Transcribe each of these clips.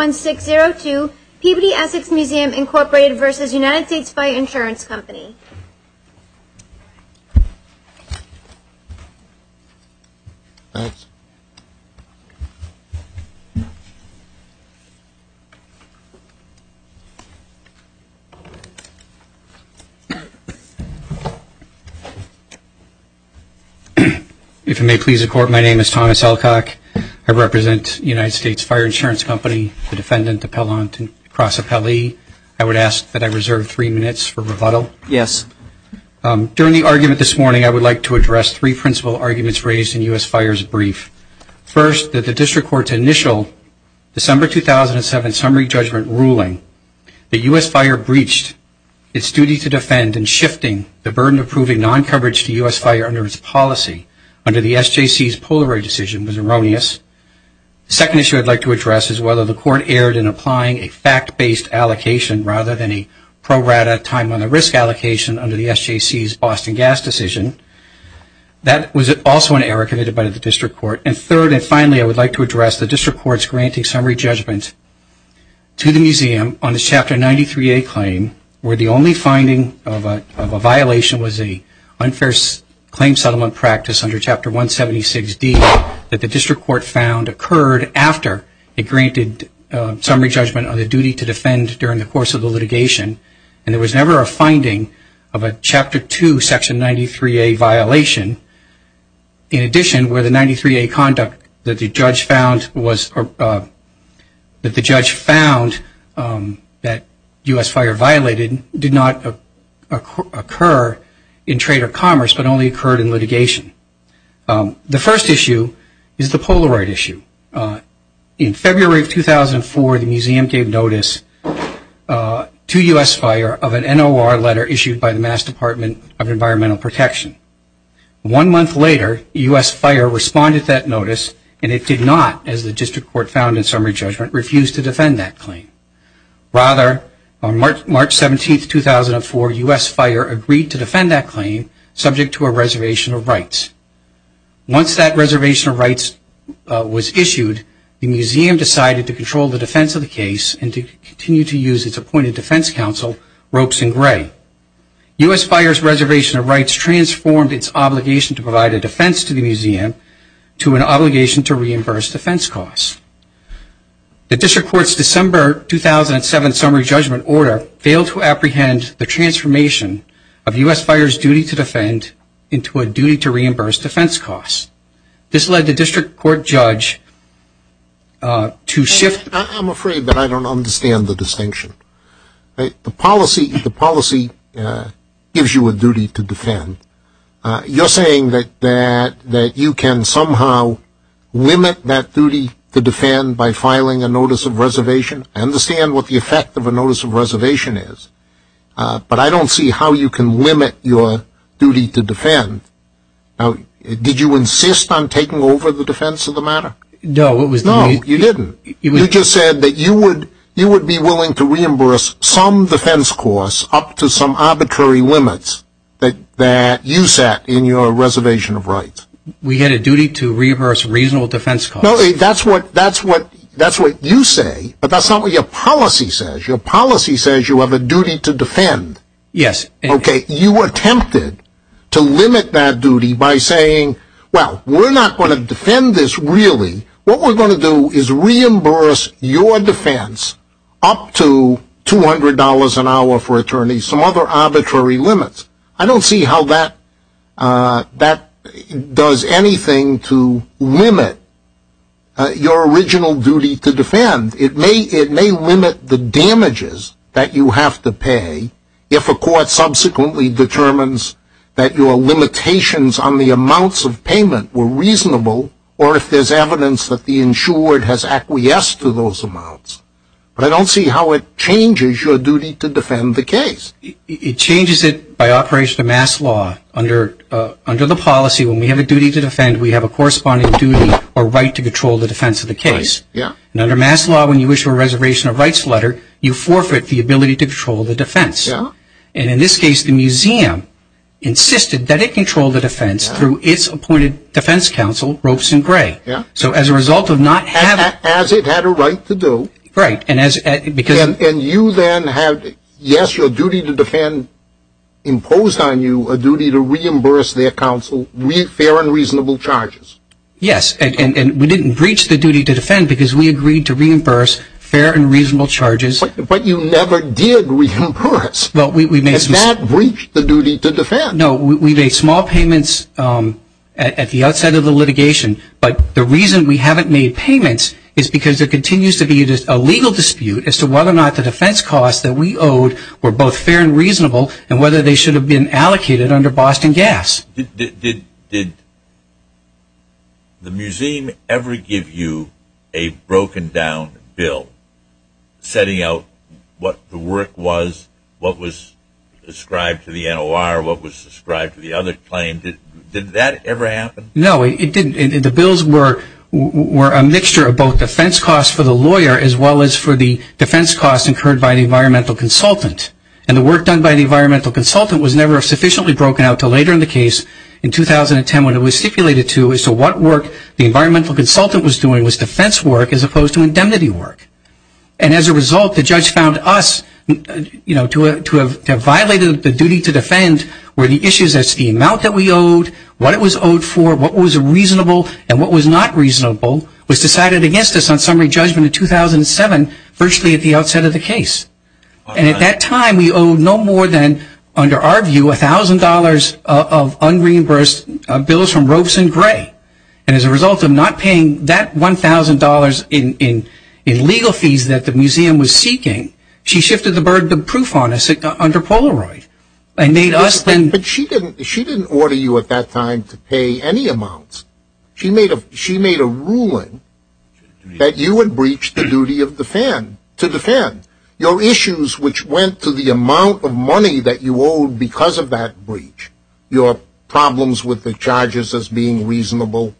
1-602, Peabody Essex Museum, Inc. v. United States Fire Insurance Company. If it may please the Court, my name is Thomas Elcock. I represent United States Fire Insurance Company. I would ask that I reserve three minutes for rebuttal. During the argument this morning, I would like to address three principal arguments raised in US Fire's brief. First, that the District Court's initial December 2007 summary judgment ruling that US Fire breached its duty to defend in shifting the burden of proving non-coverage to US Fire under its policy under the SJC's Polaroid decision was erroneous. The second issue I'd like to address is whether the Court erred in applying a fact-based allocation rather than a pro-rata, time-on-the-risk allocation under the SJC's Boston Gas decision. That was also an error committed by the District Court. And third and finally, I would like to address the District Court's granting summary judgment to the Museum on the Chapter 93A claim where the only that the District Court found occurred after it granted summary judgment on the duty to defend during the course of the litigation. And there was never a finding of a Chapter 2 Section 93A violation. In addition, where the 93A conduct that the judge found was, that the judge found that US Fire violated did not occur in trade or commerce, but only occurred in litigation. The first issue is the Polaroid issue. In February of 2004, the Museum gave notice to US Fire of an NOR letter issued by the Mass Department of Environmental Protection. One month later, US Fire responded to that notice and it did not, as the District Court found in summary judgment, refuse to defend that claim. Rather, on March 17, 2004, US Fire agreed to defend that claim subject to a reservation of rights. Once that reservation of rights was issued, the Museum decided to control the defense of the case and to continue to use its appointed defense counsel, Ropes and Gray. US Fire's reservation of rights transformed its obligation to provide a defense to the Museum to an obligation to reimburse defense costs. The District Court's December 2007 summary judgment order failed to apprehend the transformation of US Fire's duty to defend into a duty to reimburse defense costs. This led the District Court judge to shift... I'm afraid that I don't understand the distinction. The policy gives you a duty to defend. You're saying that you can somehow limit that duty to defend by filing a notice of reservation? I understand what the effect of a notice of reservation is, but I don't see how you can limit your duty to defend. Did you insist on taking over the defense of the matter? No, it was... No, you didn't. You just said that you would be willing to reimburse some defense costs up to some arbitrary limits that you set in your reservation of rights. We had a duty to reimburse reasonable defense costs. No, that's what you say, but that's not what your policy says. Your policy says you have a duty to defend. Yes. Okay, you attempted to limit that duty by saying, well, we're not going to defend this really. What we're going to do is reimburse your defense up to $200 an hour for attorneys, some other arbitrary limits. I don't see how that does anything to limit your original duty to defend. It may limit the damages that you have to pay if a court subsequently determines that your limitations on the amounts of payment were reasonable, or if there's evidence that the insured has acquiesced to those amounts. But I don't see how it changes your duty to defend the case. It changes it by operation of mass law. Under the policy, when we have a duty to defend, we have a corresponding duty or right to control the defense of the case. And under mass law, when you issue a reservation of rights letter, you forfeit the ability to control the defense. And in this case, the museum insisted that it control the defense through its appointed defense counsel, Ropes and Gray. So as a result of not having... As it had a right to do. Right. And you then have, yes, your duty to defend imposed on you a duty to reimburse their counsel fair and reasonable charges. Yes, and we didn't breach the duty to defend because we agreed to reimburse fair and reasonable charges. But you never did reimburse. And that breached the duty to defend. No, we made small payments at the outset of the litigation. But the reason we haven't made payments is because there continues to be a legal dispute as to whether or not the defense costs that we owed were both fair and reasonable, and whether they should have been allocated under Boston Gas. Did the museum ever give you a broken down bill setting out what the work was, what was ascribed to the NOR, what was ascribed to the other claim? Did that ever happen? No, it didn't. The bills were a mixture of both defense costs for the lawyer as well as for the defense costs incurred by the environmental consultant. And the work done by the environmental consultant was never sufficiently broken out until later in the case in 2010 when it was stipulated to as to what work the environmental consultant was doing was defense work as opposed to indemnity work. And as a result, the judge found us, you know, to have violated the duty to defend where the issues as to the amount that we owed, what it was owed for, what was reasonable, and what was not reasonable was decided against us on summary judgment in 2007, virtually at the outset of the case. And at that time, we owed no more than, under our view, $1,000 of unreimbursed bills from Robeson Gray. And as a result of not paying that $1,000 in legal fees that the museum was seeking, she shifted the burden of proof on us under Polaroid and made us then... But she didn't order you at that time to pay any amounts. She made a ruling that you would breach the duty of defend, to defend your issues which went to the amount of money that you owed because of that breach. Your problems with the charges as being reasonable,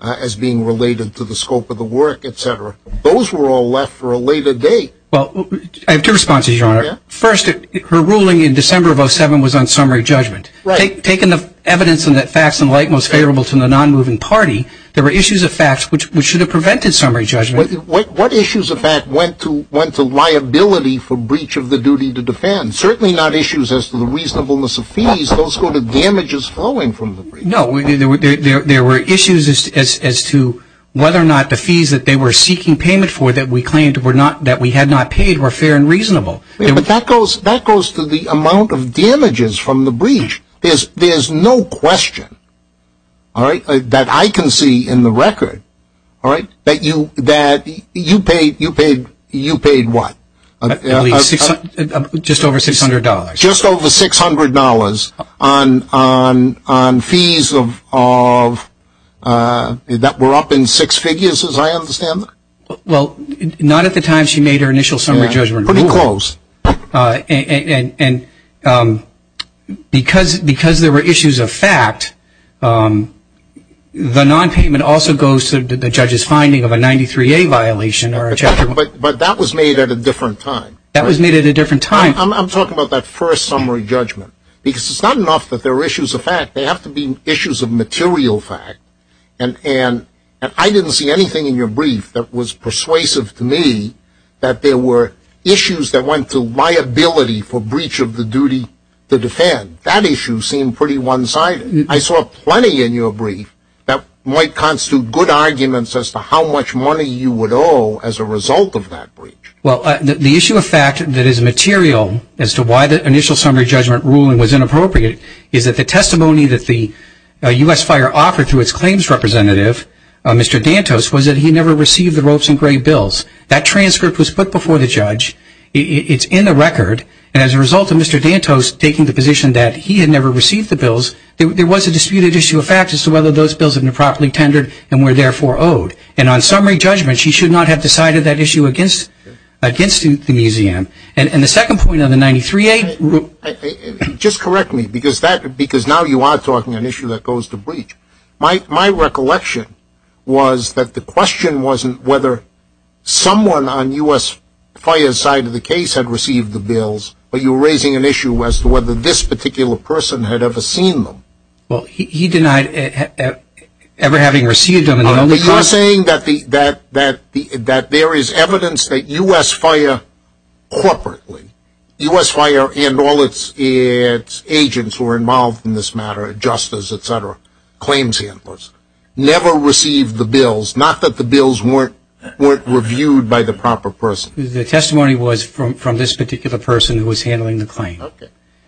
as being related to the scope of the work, etc. Those were all left for a later date. Well, I have two responses, Your Honor. First, her ruling in December of 07 was on summary judgment. Right. Taking the evidence in that facts and light most favorable to the non-moving party, there were issues of facts which should have prevented summary judgment. What issues of fact went to liability for breach of the duty to defend? Certainly not issues as to the reasonableness of fees. Those were the damages flowing from the breach. No, there were issues as to whether or not the fees that they were seeking payment for that we claimed that we had not paid were fair and reasonable. But that goes to the amount of damages from the breach. There's no question, alright, that I can see in the record, alright, that you paid what? Just over $600. Just over $600 on fees that were up in six figures as I understand it? Well, not at the time she made her initial summary judgment ruling. Pretty close. And because there were issues of fact, the non-payment also goes to the judge's finding of a 93A violation. But that was made at a different time. That was made at a different time. I'm talking about that first summary judgment. Because it's not enough that there were issues of fact. They have to be issues of material fact. And I didn't see anything in your brief that was persuasive to me that there were issues that went to liability for breach of the duty to defend. That issue seemed pretty one-sided. I saw plenty in your brief that might constitute good arguments as to how much money you would owe as a result of that breach. Well, the issue of fact that is material as to why the initial summary judgment ruling was inappropriate is that the testimony that the US Fire offered to its claims representative, Mr. Dantos, was that he never received the ropes and gray bills. That transcript was put before the judge. It's in the record. And as a result of Mr. Dantos taking the position that he had never received the bills, there was a disputed issue of fact as to whether those bills had been properly tendered and were therefore owed. And on summary judgment, she should not have decided that issue against the museum. And the second point of the 93A... Just correct me, because now you are talking an issue that goes to breach. My recollection was that the question wasn't whether someone on US Fire's side of the case had received the bills, but you're raising an issue as to whether this particular person had ever seen them. Well, he denied ever having received them. No, because you're saying that there is evidence that US Fire corporately, US Fire and all its agents who are involved in this matter, justice, et cetera, claims handlers, never received the bills. Not that the bills weren't reviewed by the proper person. The testimony was from this particular person who was handling the claim.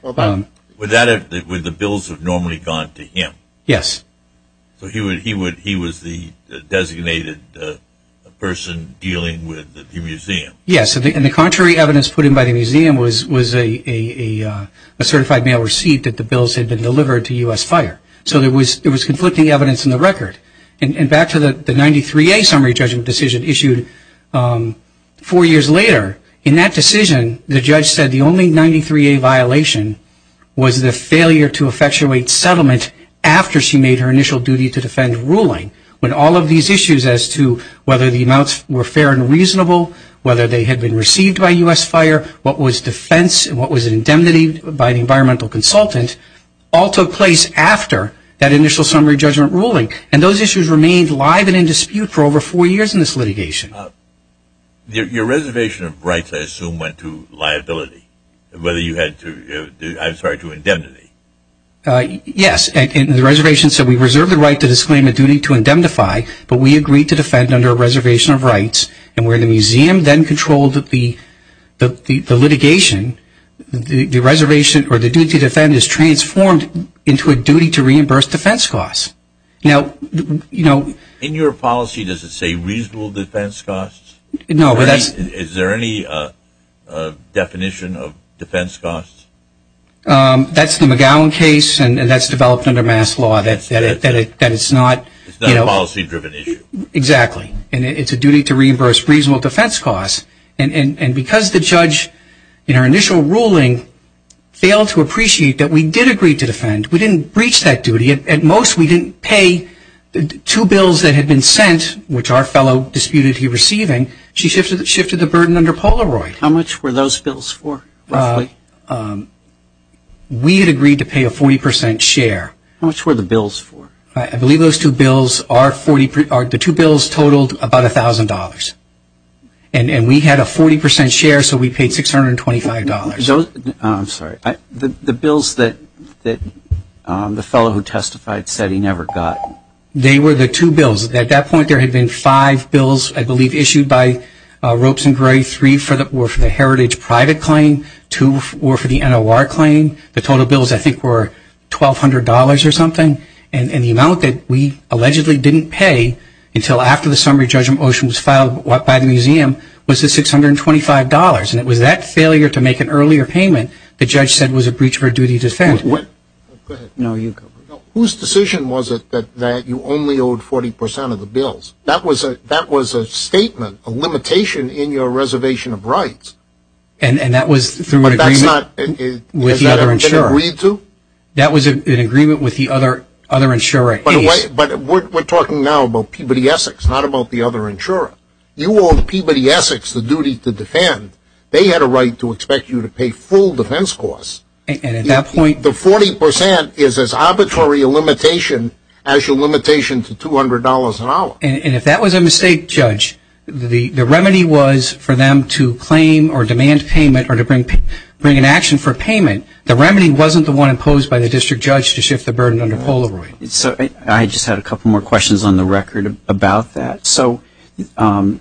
Would the bills have normally gone to him? Yes. So he was the designated person dealing with the museum? Yes. And the contrary evidence put in by the museum was a certified mail receipt that the bills had been delivered to US Fire. So there was conflicting evidence in the record. And back to the 93A summary judgment decision issued four years later. In that decision, the judge said the only 93A violation was the failure to effectuate settlement after she made her initial duty to defend ruling. When all of these issues as to whether the amounts were fair and reasonable, whether they had been received by US Fire, what was defense, what was indemnity by the environmental consultant, all took place after that initial summary judgment ruling. And those issues remained live and in dispute for over four years in this litigation. Your reservation of rights, I assume, went to liability. Whether you had to, I'm sorry, to indemnity. Yes. And the reservation said we reserved the right to disclaim a duty to indemnify, but we agreed to defend under a reservation of rights. And where the museum then controlled the litigation, the reservation or the duty to defend is transformed into a duty to reimburse defense costs. Now, you know... In your policy, does it say reasonable defense costs? No, but that's... Is there any definition of defense costs? That's the McGowan case, and that's developed under mass law, that it's not... It's not a policy-driven issue. Exactly. And it's a duty to reimburse reasonable defense costs. And because the judge, in her initial ruling, failed to appreciate that we did agree to defend, we didn't breach that duty. At most, we didn't pay the two bills that had been sent, which our fellow disputed he receiving. She shifted the burden under Polaroid. How much were those bills for, roughly? We had agreed to pay a 40 percent share. How much were the bills for? I believe those two bills are 40... The two bills totaled about $1,000. And we had a 40 percent share, so we paid $625. I'm sorry. The bills that the fellow who testified said he never got? They were the two bills. At that point, there had been five bills, I believe, issued by Ropes and Gray. Three were for the Heritage Private Claim. Two were for the NOR Claim. The total bills, I think, were $1,200 or something. And the amount that we allegedly didn't pay until after the summary judgment motion was filed by the museum was the $625. And it was that failure to make an earlier payment the judge said was a breach of our duty to defend. What? Go ahead. No, you go. Whose decision was it that you only owed 40 percent of the bills? That was a statement, a limitation in your reservation of rights. And that was through an agreement? But that's not... With the other insurer? Has that ever been agreed to? That was an agreement with the other insurer. But we're talking now about Peabody Essex, not about the other insurer. You owed Peabody Essex the duty to defend. They had a right to expect you to pay full defense costs. And at that point... The 40 percent is as arbitrary a limitation as your limitation to $200 an hour. And if that was a mistake, Judge, the remedy was for them to claim or demand payment or to bring an action for payment. The remedy wasn't the one imposed by the district judge to shift the burden under Polaroid. I just had a couple more questions on the record about that. So PEM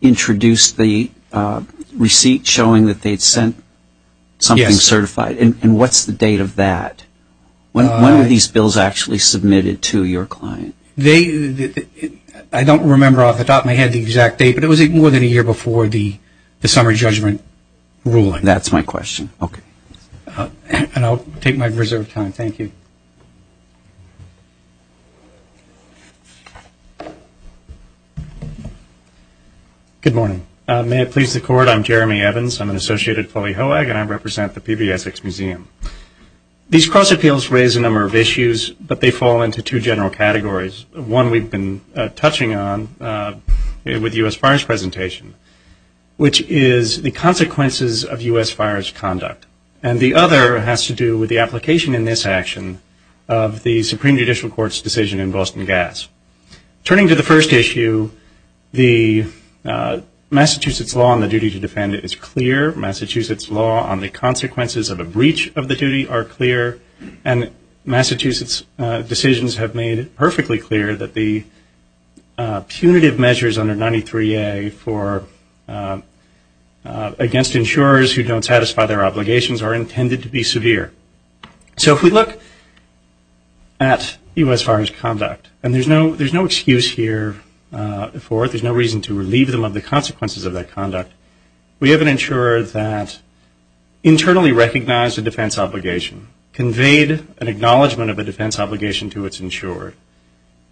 introduced the receipt showing that they'd sent something certified. And what's the date of that? When were these bills actually submitted to your client? I don't remember off the top of my head the exact date, but it was more than a year before the summer judgment ruling. That's my question. Okay. And I'll take my reserved time. Thank you. Good morning. May it please the Court, I'm Jeremy Evans. I'm an associate at Foley Hoag, and I represent the Peabody Essex Museum. These cross appeals raise a number of issues, but they fall into two general categories. One we've been touching on with U.S. Fires presentation, which is the consequences of U.S. Fires conduct. And the other has to do with the application in this action of the Supreme Judicial Court's decision in Boston Gas. Turning to the first issue, the Massachusetts law on the duty to defend is clear. Massachusetts law on the consequences of a breach of the duty are clear. And Massachusetts decisions have made it perfectly clear that the punitive measures under 93A against insurers who don't satisfy their obligations are intended to be severe. So if we look at U.S. Fires conduct, and there's no excuse here for it. There's no reason to relieve them of the consequences of that conduct. We have an insurer that internally recognized a defense obligation, conveyed an acknowledgment of it,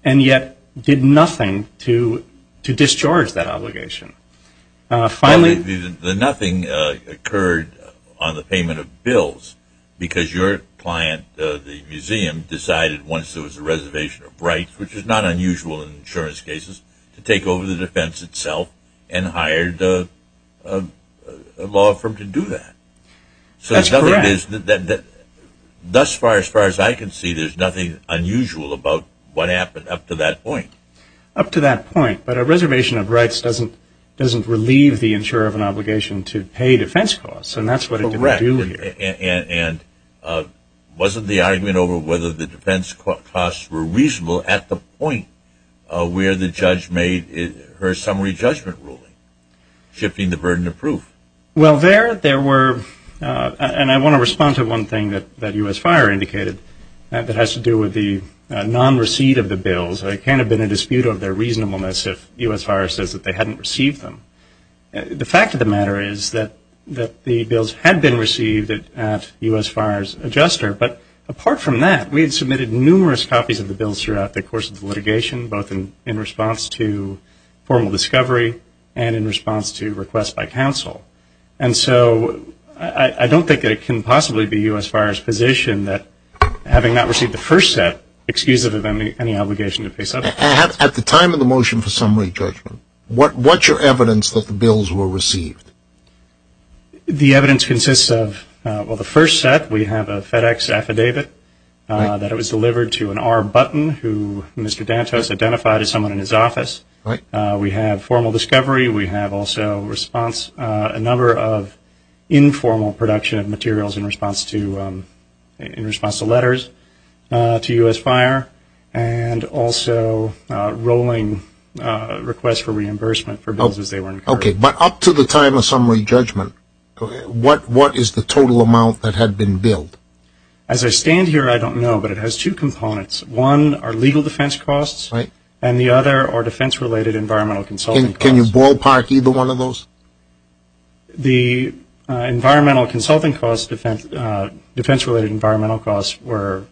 and yet did nothing to discharge that obligation. Finally, the nothing occurred on the payment of bills because your client, the museum, decided once there was a reservation of rights, which is not unusual in insurance cases, to take over the defense itself and hired a law firm to do that. That's correct. So thus far, as far as I can see, there's nothing unusual about what happened up to that point. Up to that point, but a reservation of rights doesn't relieve the insurer of an obligation to pay defense costs, and that's what it didn't do here. And wasn't the argument over whether the defense costs were reasonable at the point where the judge made her summary judgment ruling, shifting the burden of proof? Well, there were, and I want to respond to one thing that U.S. Fire indicated that has to do with the non-receipt of the bills. There can't have been a dispute of their reasonableness if U.S. Fire says that they hadn't received them. The fact of the matter is that the bills had been received at U.S. Fire's adjuster, but apart from that, we had submitted numerous copies of the bills throughout the course of the litigation, both in response to formal discovery and in response to requests by counsel. And so, I don't think that it can possibly be U.S. Fire's position that having not received the first set, excuse it of any obligation to pay something. At the time of the motion for summary judgment, what's your evidence that the bills were received? The evidence consists of, well, the first set, we have a FedEx affidavit that it was delivered to an R. Button, who Mr. Dantos identified as someone in his office. We have formal discovery, we have also a number of informal production of materials in response to letters to U.S. Fire, and also rolling requests for reimbursement for bills as they were incurred. Okay, but up to the time of summary judgment, what is the total amount that had been billed? As I stand here, I don't know, but it has two components. One are legal defense costs, and the other are defense-related environmental consulting costs. Can you ballpark either one of those? The environmental consulting costs, defense-related environmental costs were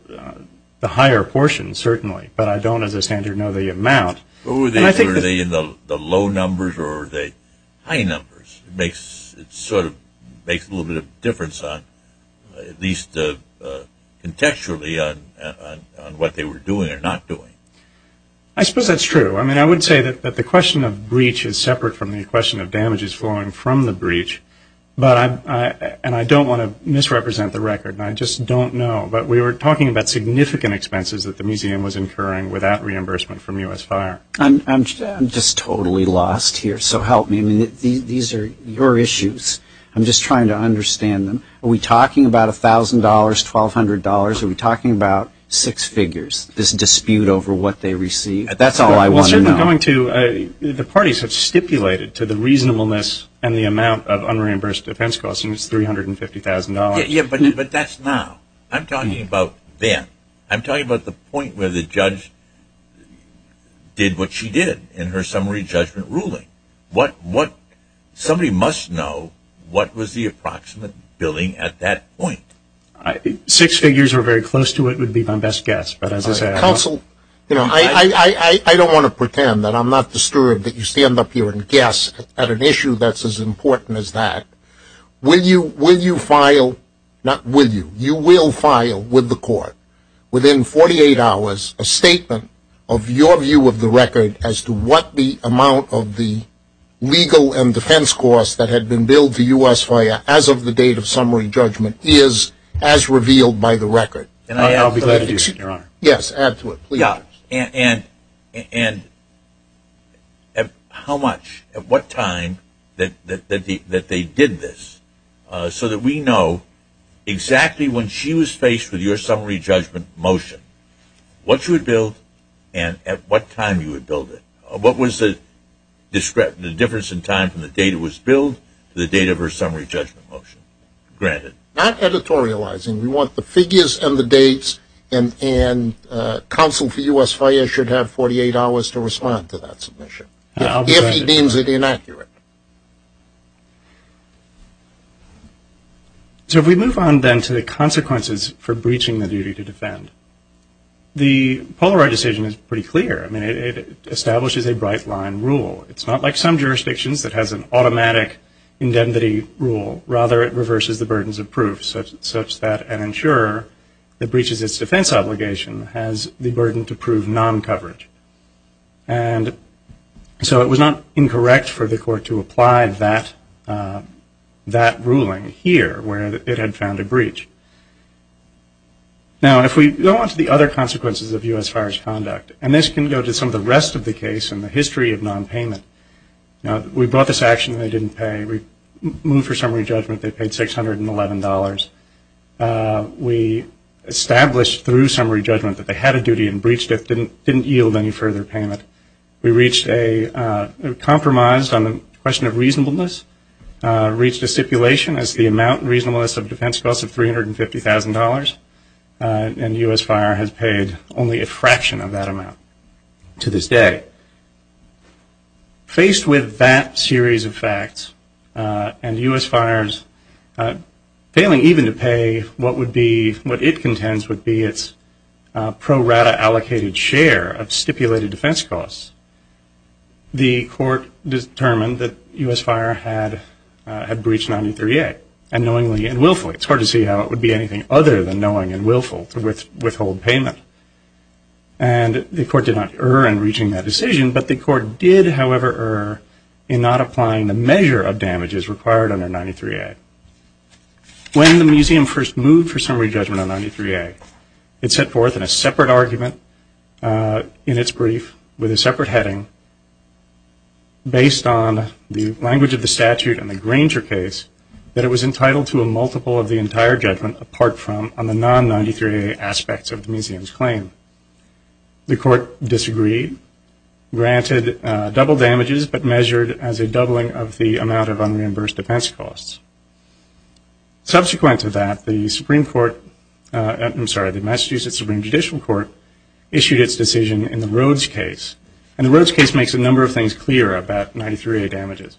the higher portion, certainly, but I don't, as I stand here, know the amount. And I think that Were they in the low numbers or were they high numbers? It sort of makes a little bit of difference on, at least contextually, on what they were doing and what they're not doing. I suppose that's true. I mean, I would say that the question of breach is separate from the question of damages flowing from the breach, and I don't want to misrepresent the record, and I just don't know. But we were talking about significant expenses that the museum was incurring without reimbursement from U.S. Fire. I'm just totally lost here, so help me. These are your issues. I'm just trying to understand them. Are we talking about $1,000, $1,200? Are we disputing over what they received? That's all I want to know. Well, certainly going to, the parties have stipulated to the reasonableness and the amount of unreimbursed defense costs, and it's $350,000. Yeah, but that's now. I'm talking about then. I'm talking about the point where the judge did what she did in her summary judgment ruling. What, somebody must know what was the approximate billing at that point. Six figures are very close to what would be my best guess, but as I counsel, I don't want to pretend that I'm not disturbed that you stand up here and guess at an issue that's as important as that. Will you file, not will you, you will file with the court within 48 hours a statement of your view of the record as to what the amount of the legal and defense costs that had been billed to U.S. Fire as of the date of summary judgment is as revealed by the record. And I'll be glad to do that, Your Honor. Yes, add to it, please. Yeah, and how much, at what time that they did this, so that we know exactly when she was faced with your summary judgment motion, what you would bill and at what time you would bill it. What was the difference in time from the date it was billed to the date of her summary judgment motion granted? Not editorializing. We want the figures and the dates and counsel for U.S. Fire should have 48 hours to respond to that submission, if he deems it inaccurate. So if we move on then to the consequences for breaching the duty to defend, the Polaroid decision is pretty clear. I mean, it establishes a bright line rule. It's not like some jurisdictions that has an automatic indemnity rule. Rather, it reverses the burdens of proof, such that an insurer that breaches its defense obligation has the burden to prove non-coverage. And so it was not incorrect for the court to apply that ruling here, where it had found a breach. Now, if we go on to the other consequences of U.S. Fire's conduct, and this can go to some of the rest of the case in the history of nonpayment. Now, we brought this action and they didn't pay. We moved for summary judgment, they paid $611. We established through summary judgment that they had a duty and breached it, didn't yield any further payment. We reached a compromise on the question of reasonableness, reached a stipulation as the amount reasonableness of defense costs of $350,000. And U.S. Fire has paid only a fraction of that amount to this day. Faced with that series of facts and U.S. Fire's failing even to pay what would be, what it contends would be its pro-rata allocated share of stipulated defense costs, the court determined that U.S. Fire had breached 93A unknowingly and willfully. It's hard to see how it would be anything other than knowing and willful to withhold payment. And the court did, however, err in not applying the measure of damages required under 93A. When the museum first moved for summary judgment on 93A, it set forth in a separate argument in its brief with a separate heading based on the language of the statute and the Granger case that it was entitled to a multiple of the entire judgment apart from on the double damages but measured as a doubling of the amount of unreimbursed defense costs. Subsequent to that, the Massachusetts Supreme Judicial Court issued its decision in the Rhodes case. And the Rhodes case makes a number of things clear about 93A damages.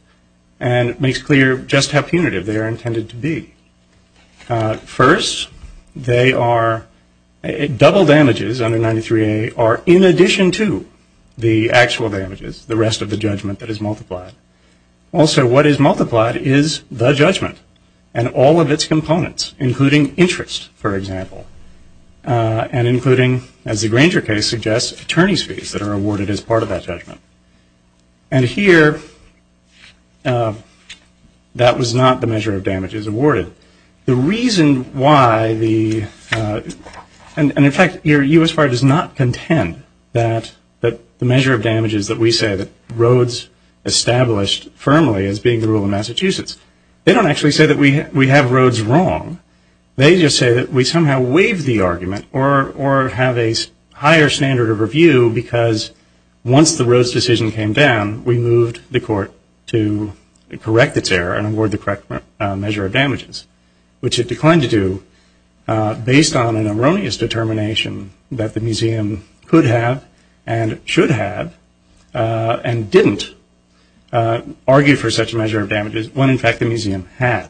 And it makes clear just how punitive they are intended to be. First, double damages under 93A are in the rest of the judgment that is multiplied. Also, what is multiplied is the judgment and all of its components, including interest, for example, and including, as the Granger case suggests, attorney's fees that are awarded as part of that judgment. And here, that was not the measure of damages awarded. The reason why the, and in fact, U.S. Fire does not award damages that we say that Rhodes established firmly as being the rule of Massachusetts. They don't actually say that we have Rhodes wrong. They just say that we somehow waive the argument or have a higher standard of review because once the Rhodes decision came down, we moved the court to correct its error and award the correct measure of damages, which it declined to do based on an erroneous determination that the and didn't argue for such a measure of damages when, in fact, the museum had.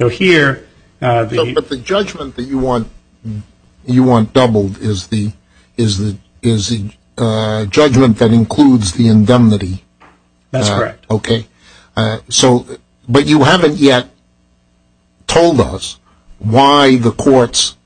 So, here, the But the judgment that you want doubled is the judgment that includes the indemnity. That's correct. Okay. So, but you haven't yet told us why the court's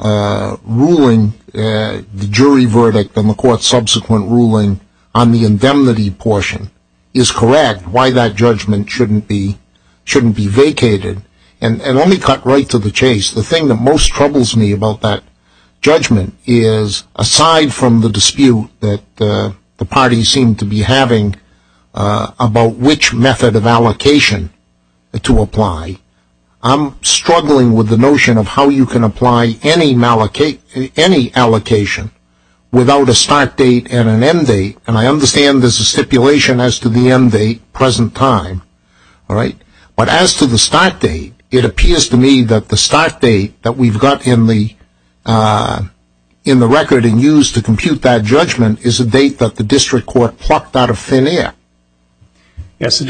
ruling, the jury verdict and the court's subsequent ruling on the indemnity portion is correct, why that judgment shouldn't be, shouldn't be vacated. And let me cut right to the chase. The thing that most troubles me about that judgment is, aside from the dispute that the parties seem to be having about which method of apply, I'm struggling with the notion of how you can apply any mallocate, any allocation without a start date and an end date. And I understand there's a stipulation as to the end date, present time. All right. But as to the start date, it appears to me that the start date that we've got in the, in the record and used to compute that judgment is a date that the district court plucked out of thin air. Yes, the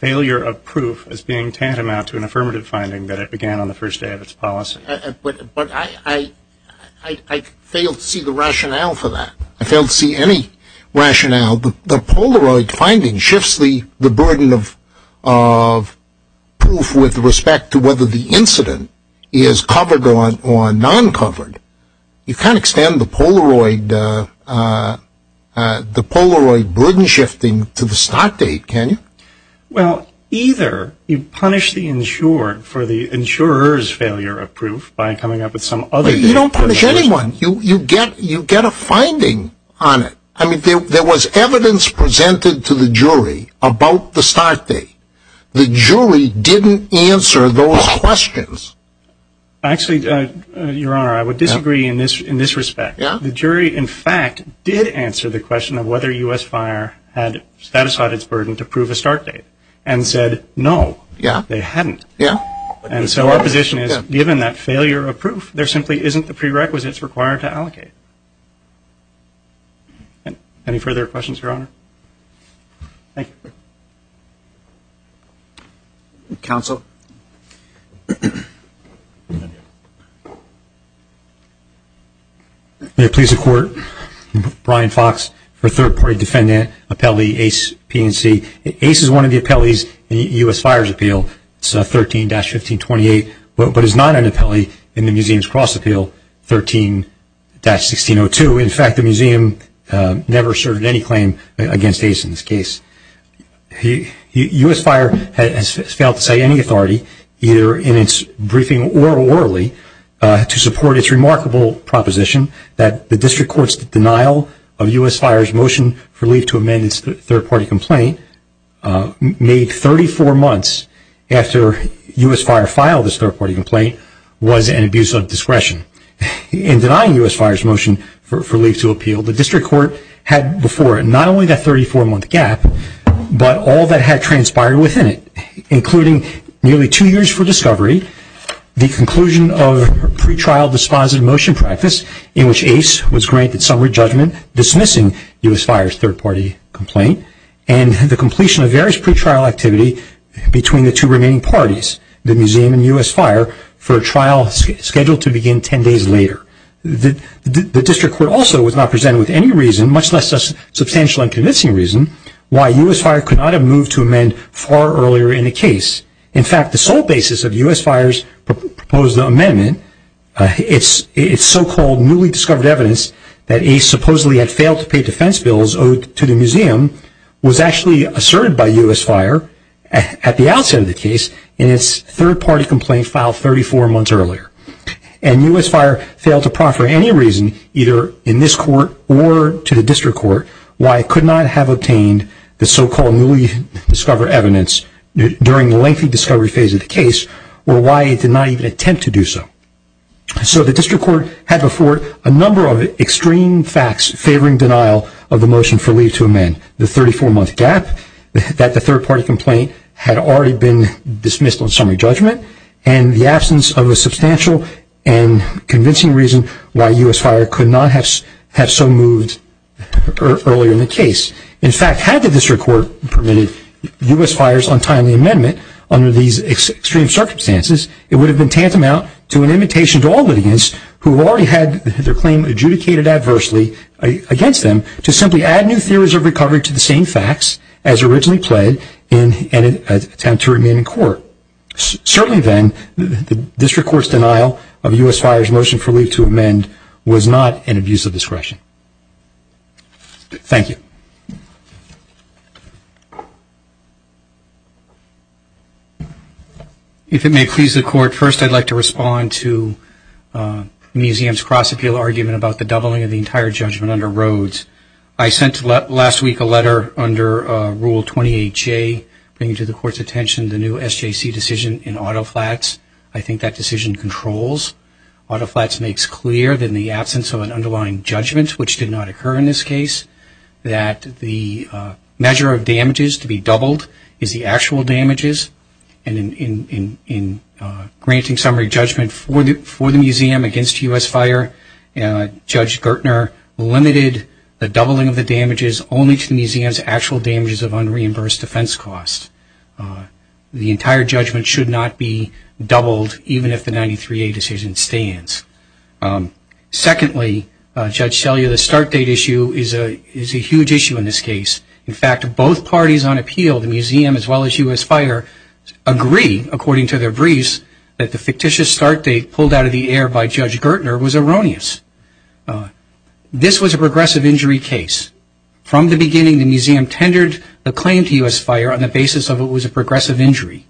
failure of proof is being tantamount to an affirmative finding that it began on the first day of its policy. But I, I, I failed to see the rationale for that. I failed to see any rationale. The Polaroid finding shifts the, the burden of, of proof with respect to whether the incident is covered or non-covered. You can't extend the Polaroid, the Polaroid burden shifting to the start date, can you? Well, either you punish the insured for the insurer's failure of proof by coming up with some other date. You don't punish anyone. You, you get, you get a finding on it. I mean, there, there was evidence presented to the jury about the start date. The jury didn't answer those questions. Actually, Your Honor, I would disagree in this, in this respect. Yeah. The jury, in fact, did answer the question of whether U.S. Fire had satisfied its burden to prove a start date and said, no. Yeah. They hadn't. Yeah. And so our position is, given that failure of proof, there simply isn't the prerequisites required to allocate. Any further questions, Your Honor? Thank you. Counsel? May it please the Court, Brian Fox for third-party defendant, appellee Ace PNC. Ace is one of the appellees in the U.S. Fires Appeal. It's 13-1528, but is not an appellee in the Museum's Cross Appeal 13-1602. In fact, the U.S. Fire has failed to say any authority, either in its briefing or orally, to support its remarkable proposition that the District Court's denial of U.S. Fire's motion for leave to amend its third-party complaint made 34 months after U.S. Fire filed its third-party complaint was an abuse of discretion. In denying U.S. Fire's motion for leave to appeal, the District Court also denied U.S. Fire's motion for leave to appeal, but all that had transpired within it, including nearly two years for discovery, the conclusion of pre-trial dispositive motion practice in which Ace was granted summary judgment dismissing U.S. Fire's third-party complaint, and the completion of various pre-trial activity between the two remaining parties, the Museum and U.S. Fire, for a trial scheduled to begin 10 days later. The District Court also was not presented with any reason, much less substantial and convincing reason, why U.S. Fire could not have moved to amend far earlier in the case. In fact, the sole basis of U.S. Fire's proposed amendment, its so-called newly discovered evidence that Ace supposedly had failed to pay defense bills owed to the Museum, was actually asserted by U.S. Fire at the outset of the case in its third-party complaint filed 34 months earlier. And U.S. Court, why it could not have obtained the so-called newly discovered evidence during the lengthy discovery phase of the case, or why it did not even attempt to do so. So the District Court had before it a number of extreme facts favoring denial of the motion for leave to amend. The 34-month gap that the third-party complaint had already been dismissed on summary judgment, and the absence of a substantial and convincing reason why U.S. Fire could not have so moved earlier in the case. In fact, had the District Court permitted U.S. Fire's untimely amendment under these extreme circumstances, it would have been tantamount to an invitation to all litigants who already had their claim adjudicated adversely against them, to simply add new theories of recovery to the same facts as originally pled in an attempt to remain in court. Certainly then, the District Court's denial of U.S. Fire's motion for leave to amend was not an abuse of discretion. Thank you. If it may please the Court, first I'd like to respond to Museum's cross-appeal argument about the doubling of the entire judgment under Rhodes. I sent last week a letter under Rule 28J, bringing to the Court's attention the new SJC decision in Auto Flats. I think that decision controls. Auto Flats makes clear that in the absence of an underlying judgment, which did not occur in this case, that the measure of damages to be doubled is the actual damages, and in granting summary judgment for the Museum against U.S. Fire, Judge Gertner limited the doubling of the damages only to the Museum's actual damages of unreimbursed defense costs. The entire judgment should not be doubled, even if the 93A decision stands. Secondly, Judge Selye, the start date issue is a huge issue in this case. In fact, both parties on appeal, the Museum as well as U.S. Fire, agree, according to their briefs, that the fictitious start date pulled out of the air by Judge Gertner was erroneous. This was a progressive injury case. From the beginning, the Museum tendered the claim to U.S. Fire on the basis of it was a progressive injury.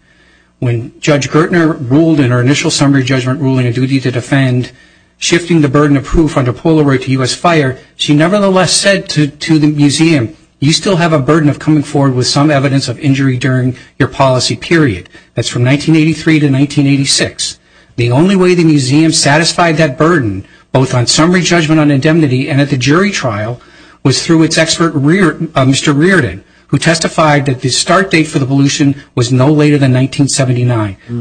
When Judge Gertner ruled in her initial summary judgment ruling a duty to defend, shifting the burden of proof under Polaroid to U.S. Fire, she nevertheless said to the Museum, you still have a burden of coming forward with some evidence of injury during your policy period. That's from 1983 to 1986. The only way the Museum satisfied that burden, both on summary judgment on indemnity and at the jury trial, was through its expert, Mr. Reardon, who testified that the start date for the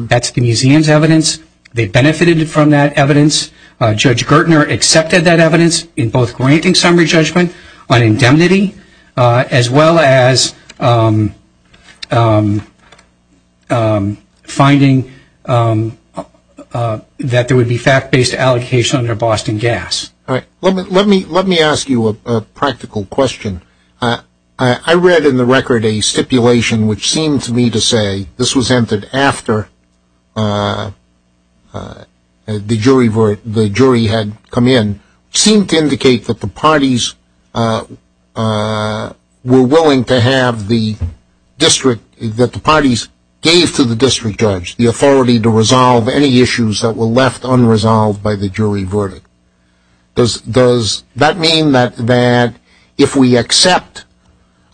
That's the Museum's evidence. They benefited from that evidence. Judge Gertner accepted that evidence in both granting summary judgment on indemnity as well as finding that there would be fact-based allocation under Boston Gas. All right. Let me ask you a practical question. I read in the record a after the jury had come in, seemed to indicate that the parties were willing to have the district, that the parties gave to the district judge the authority to resolve any issues that were left unresolved by the jury verdict. Does that mean that if we accept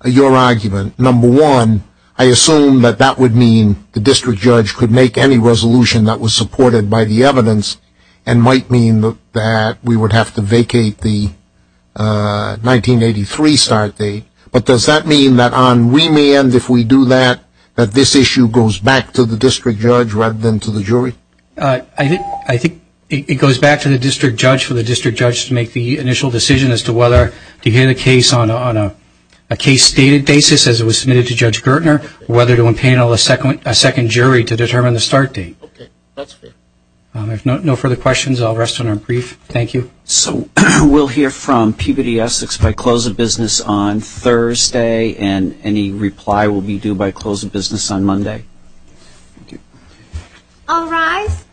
your argument, number one, I assume that that would mean the district judge could make any resolution that was supported by the evidence and might mean that we would have to vacate the 1983 start date. But does that mean that on remand, if we do that, that this issue goes back to the district judge rather than to the jury? I think it goes back to the district judge for the district judge to make the initial decision as to whether to hear the case on a case-stated basis, as it was a second jury to determine the start date. Okay. That's fair. If no further questions, I'll rest on our brief. Thank you. So we'll hear from Peabody Essex by close of business on Thursday, and any reply will be due by close of business on Monday. Thank you. All rise.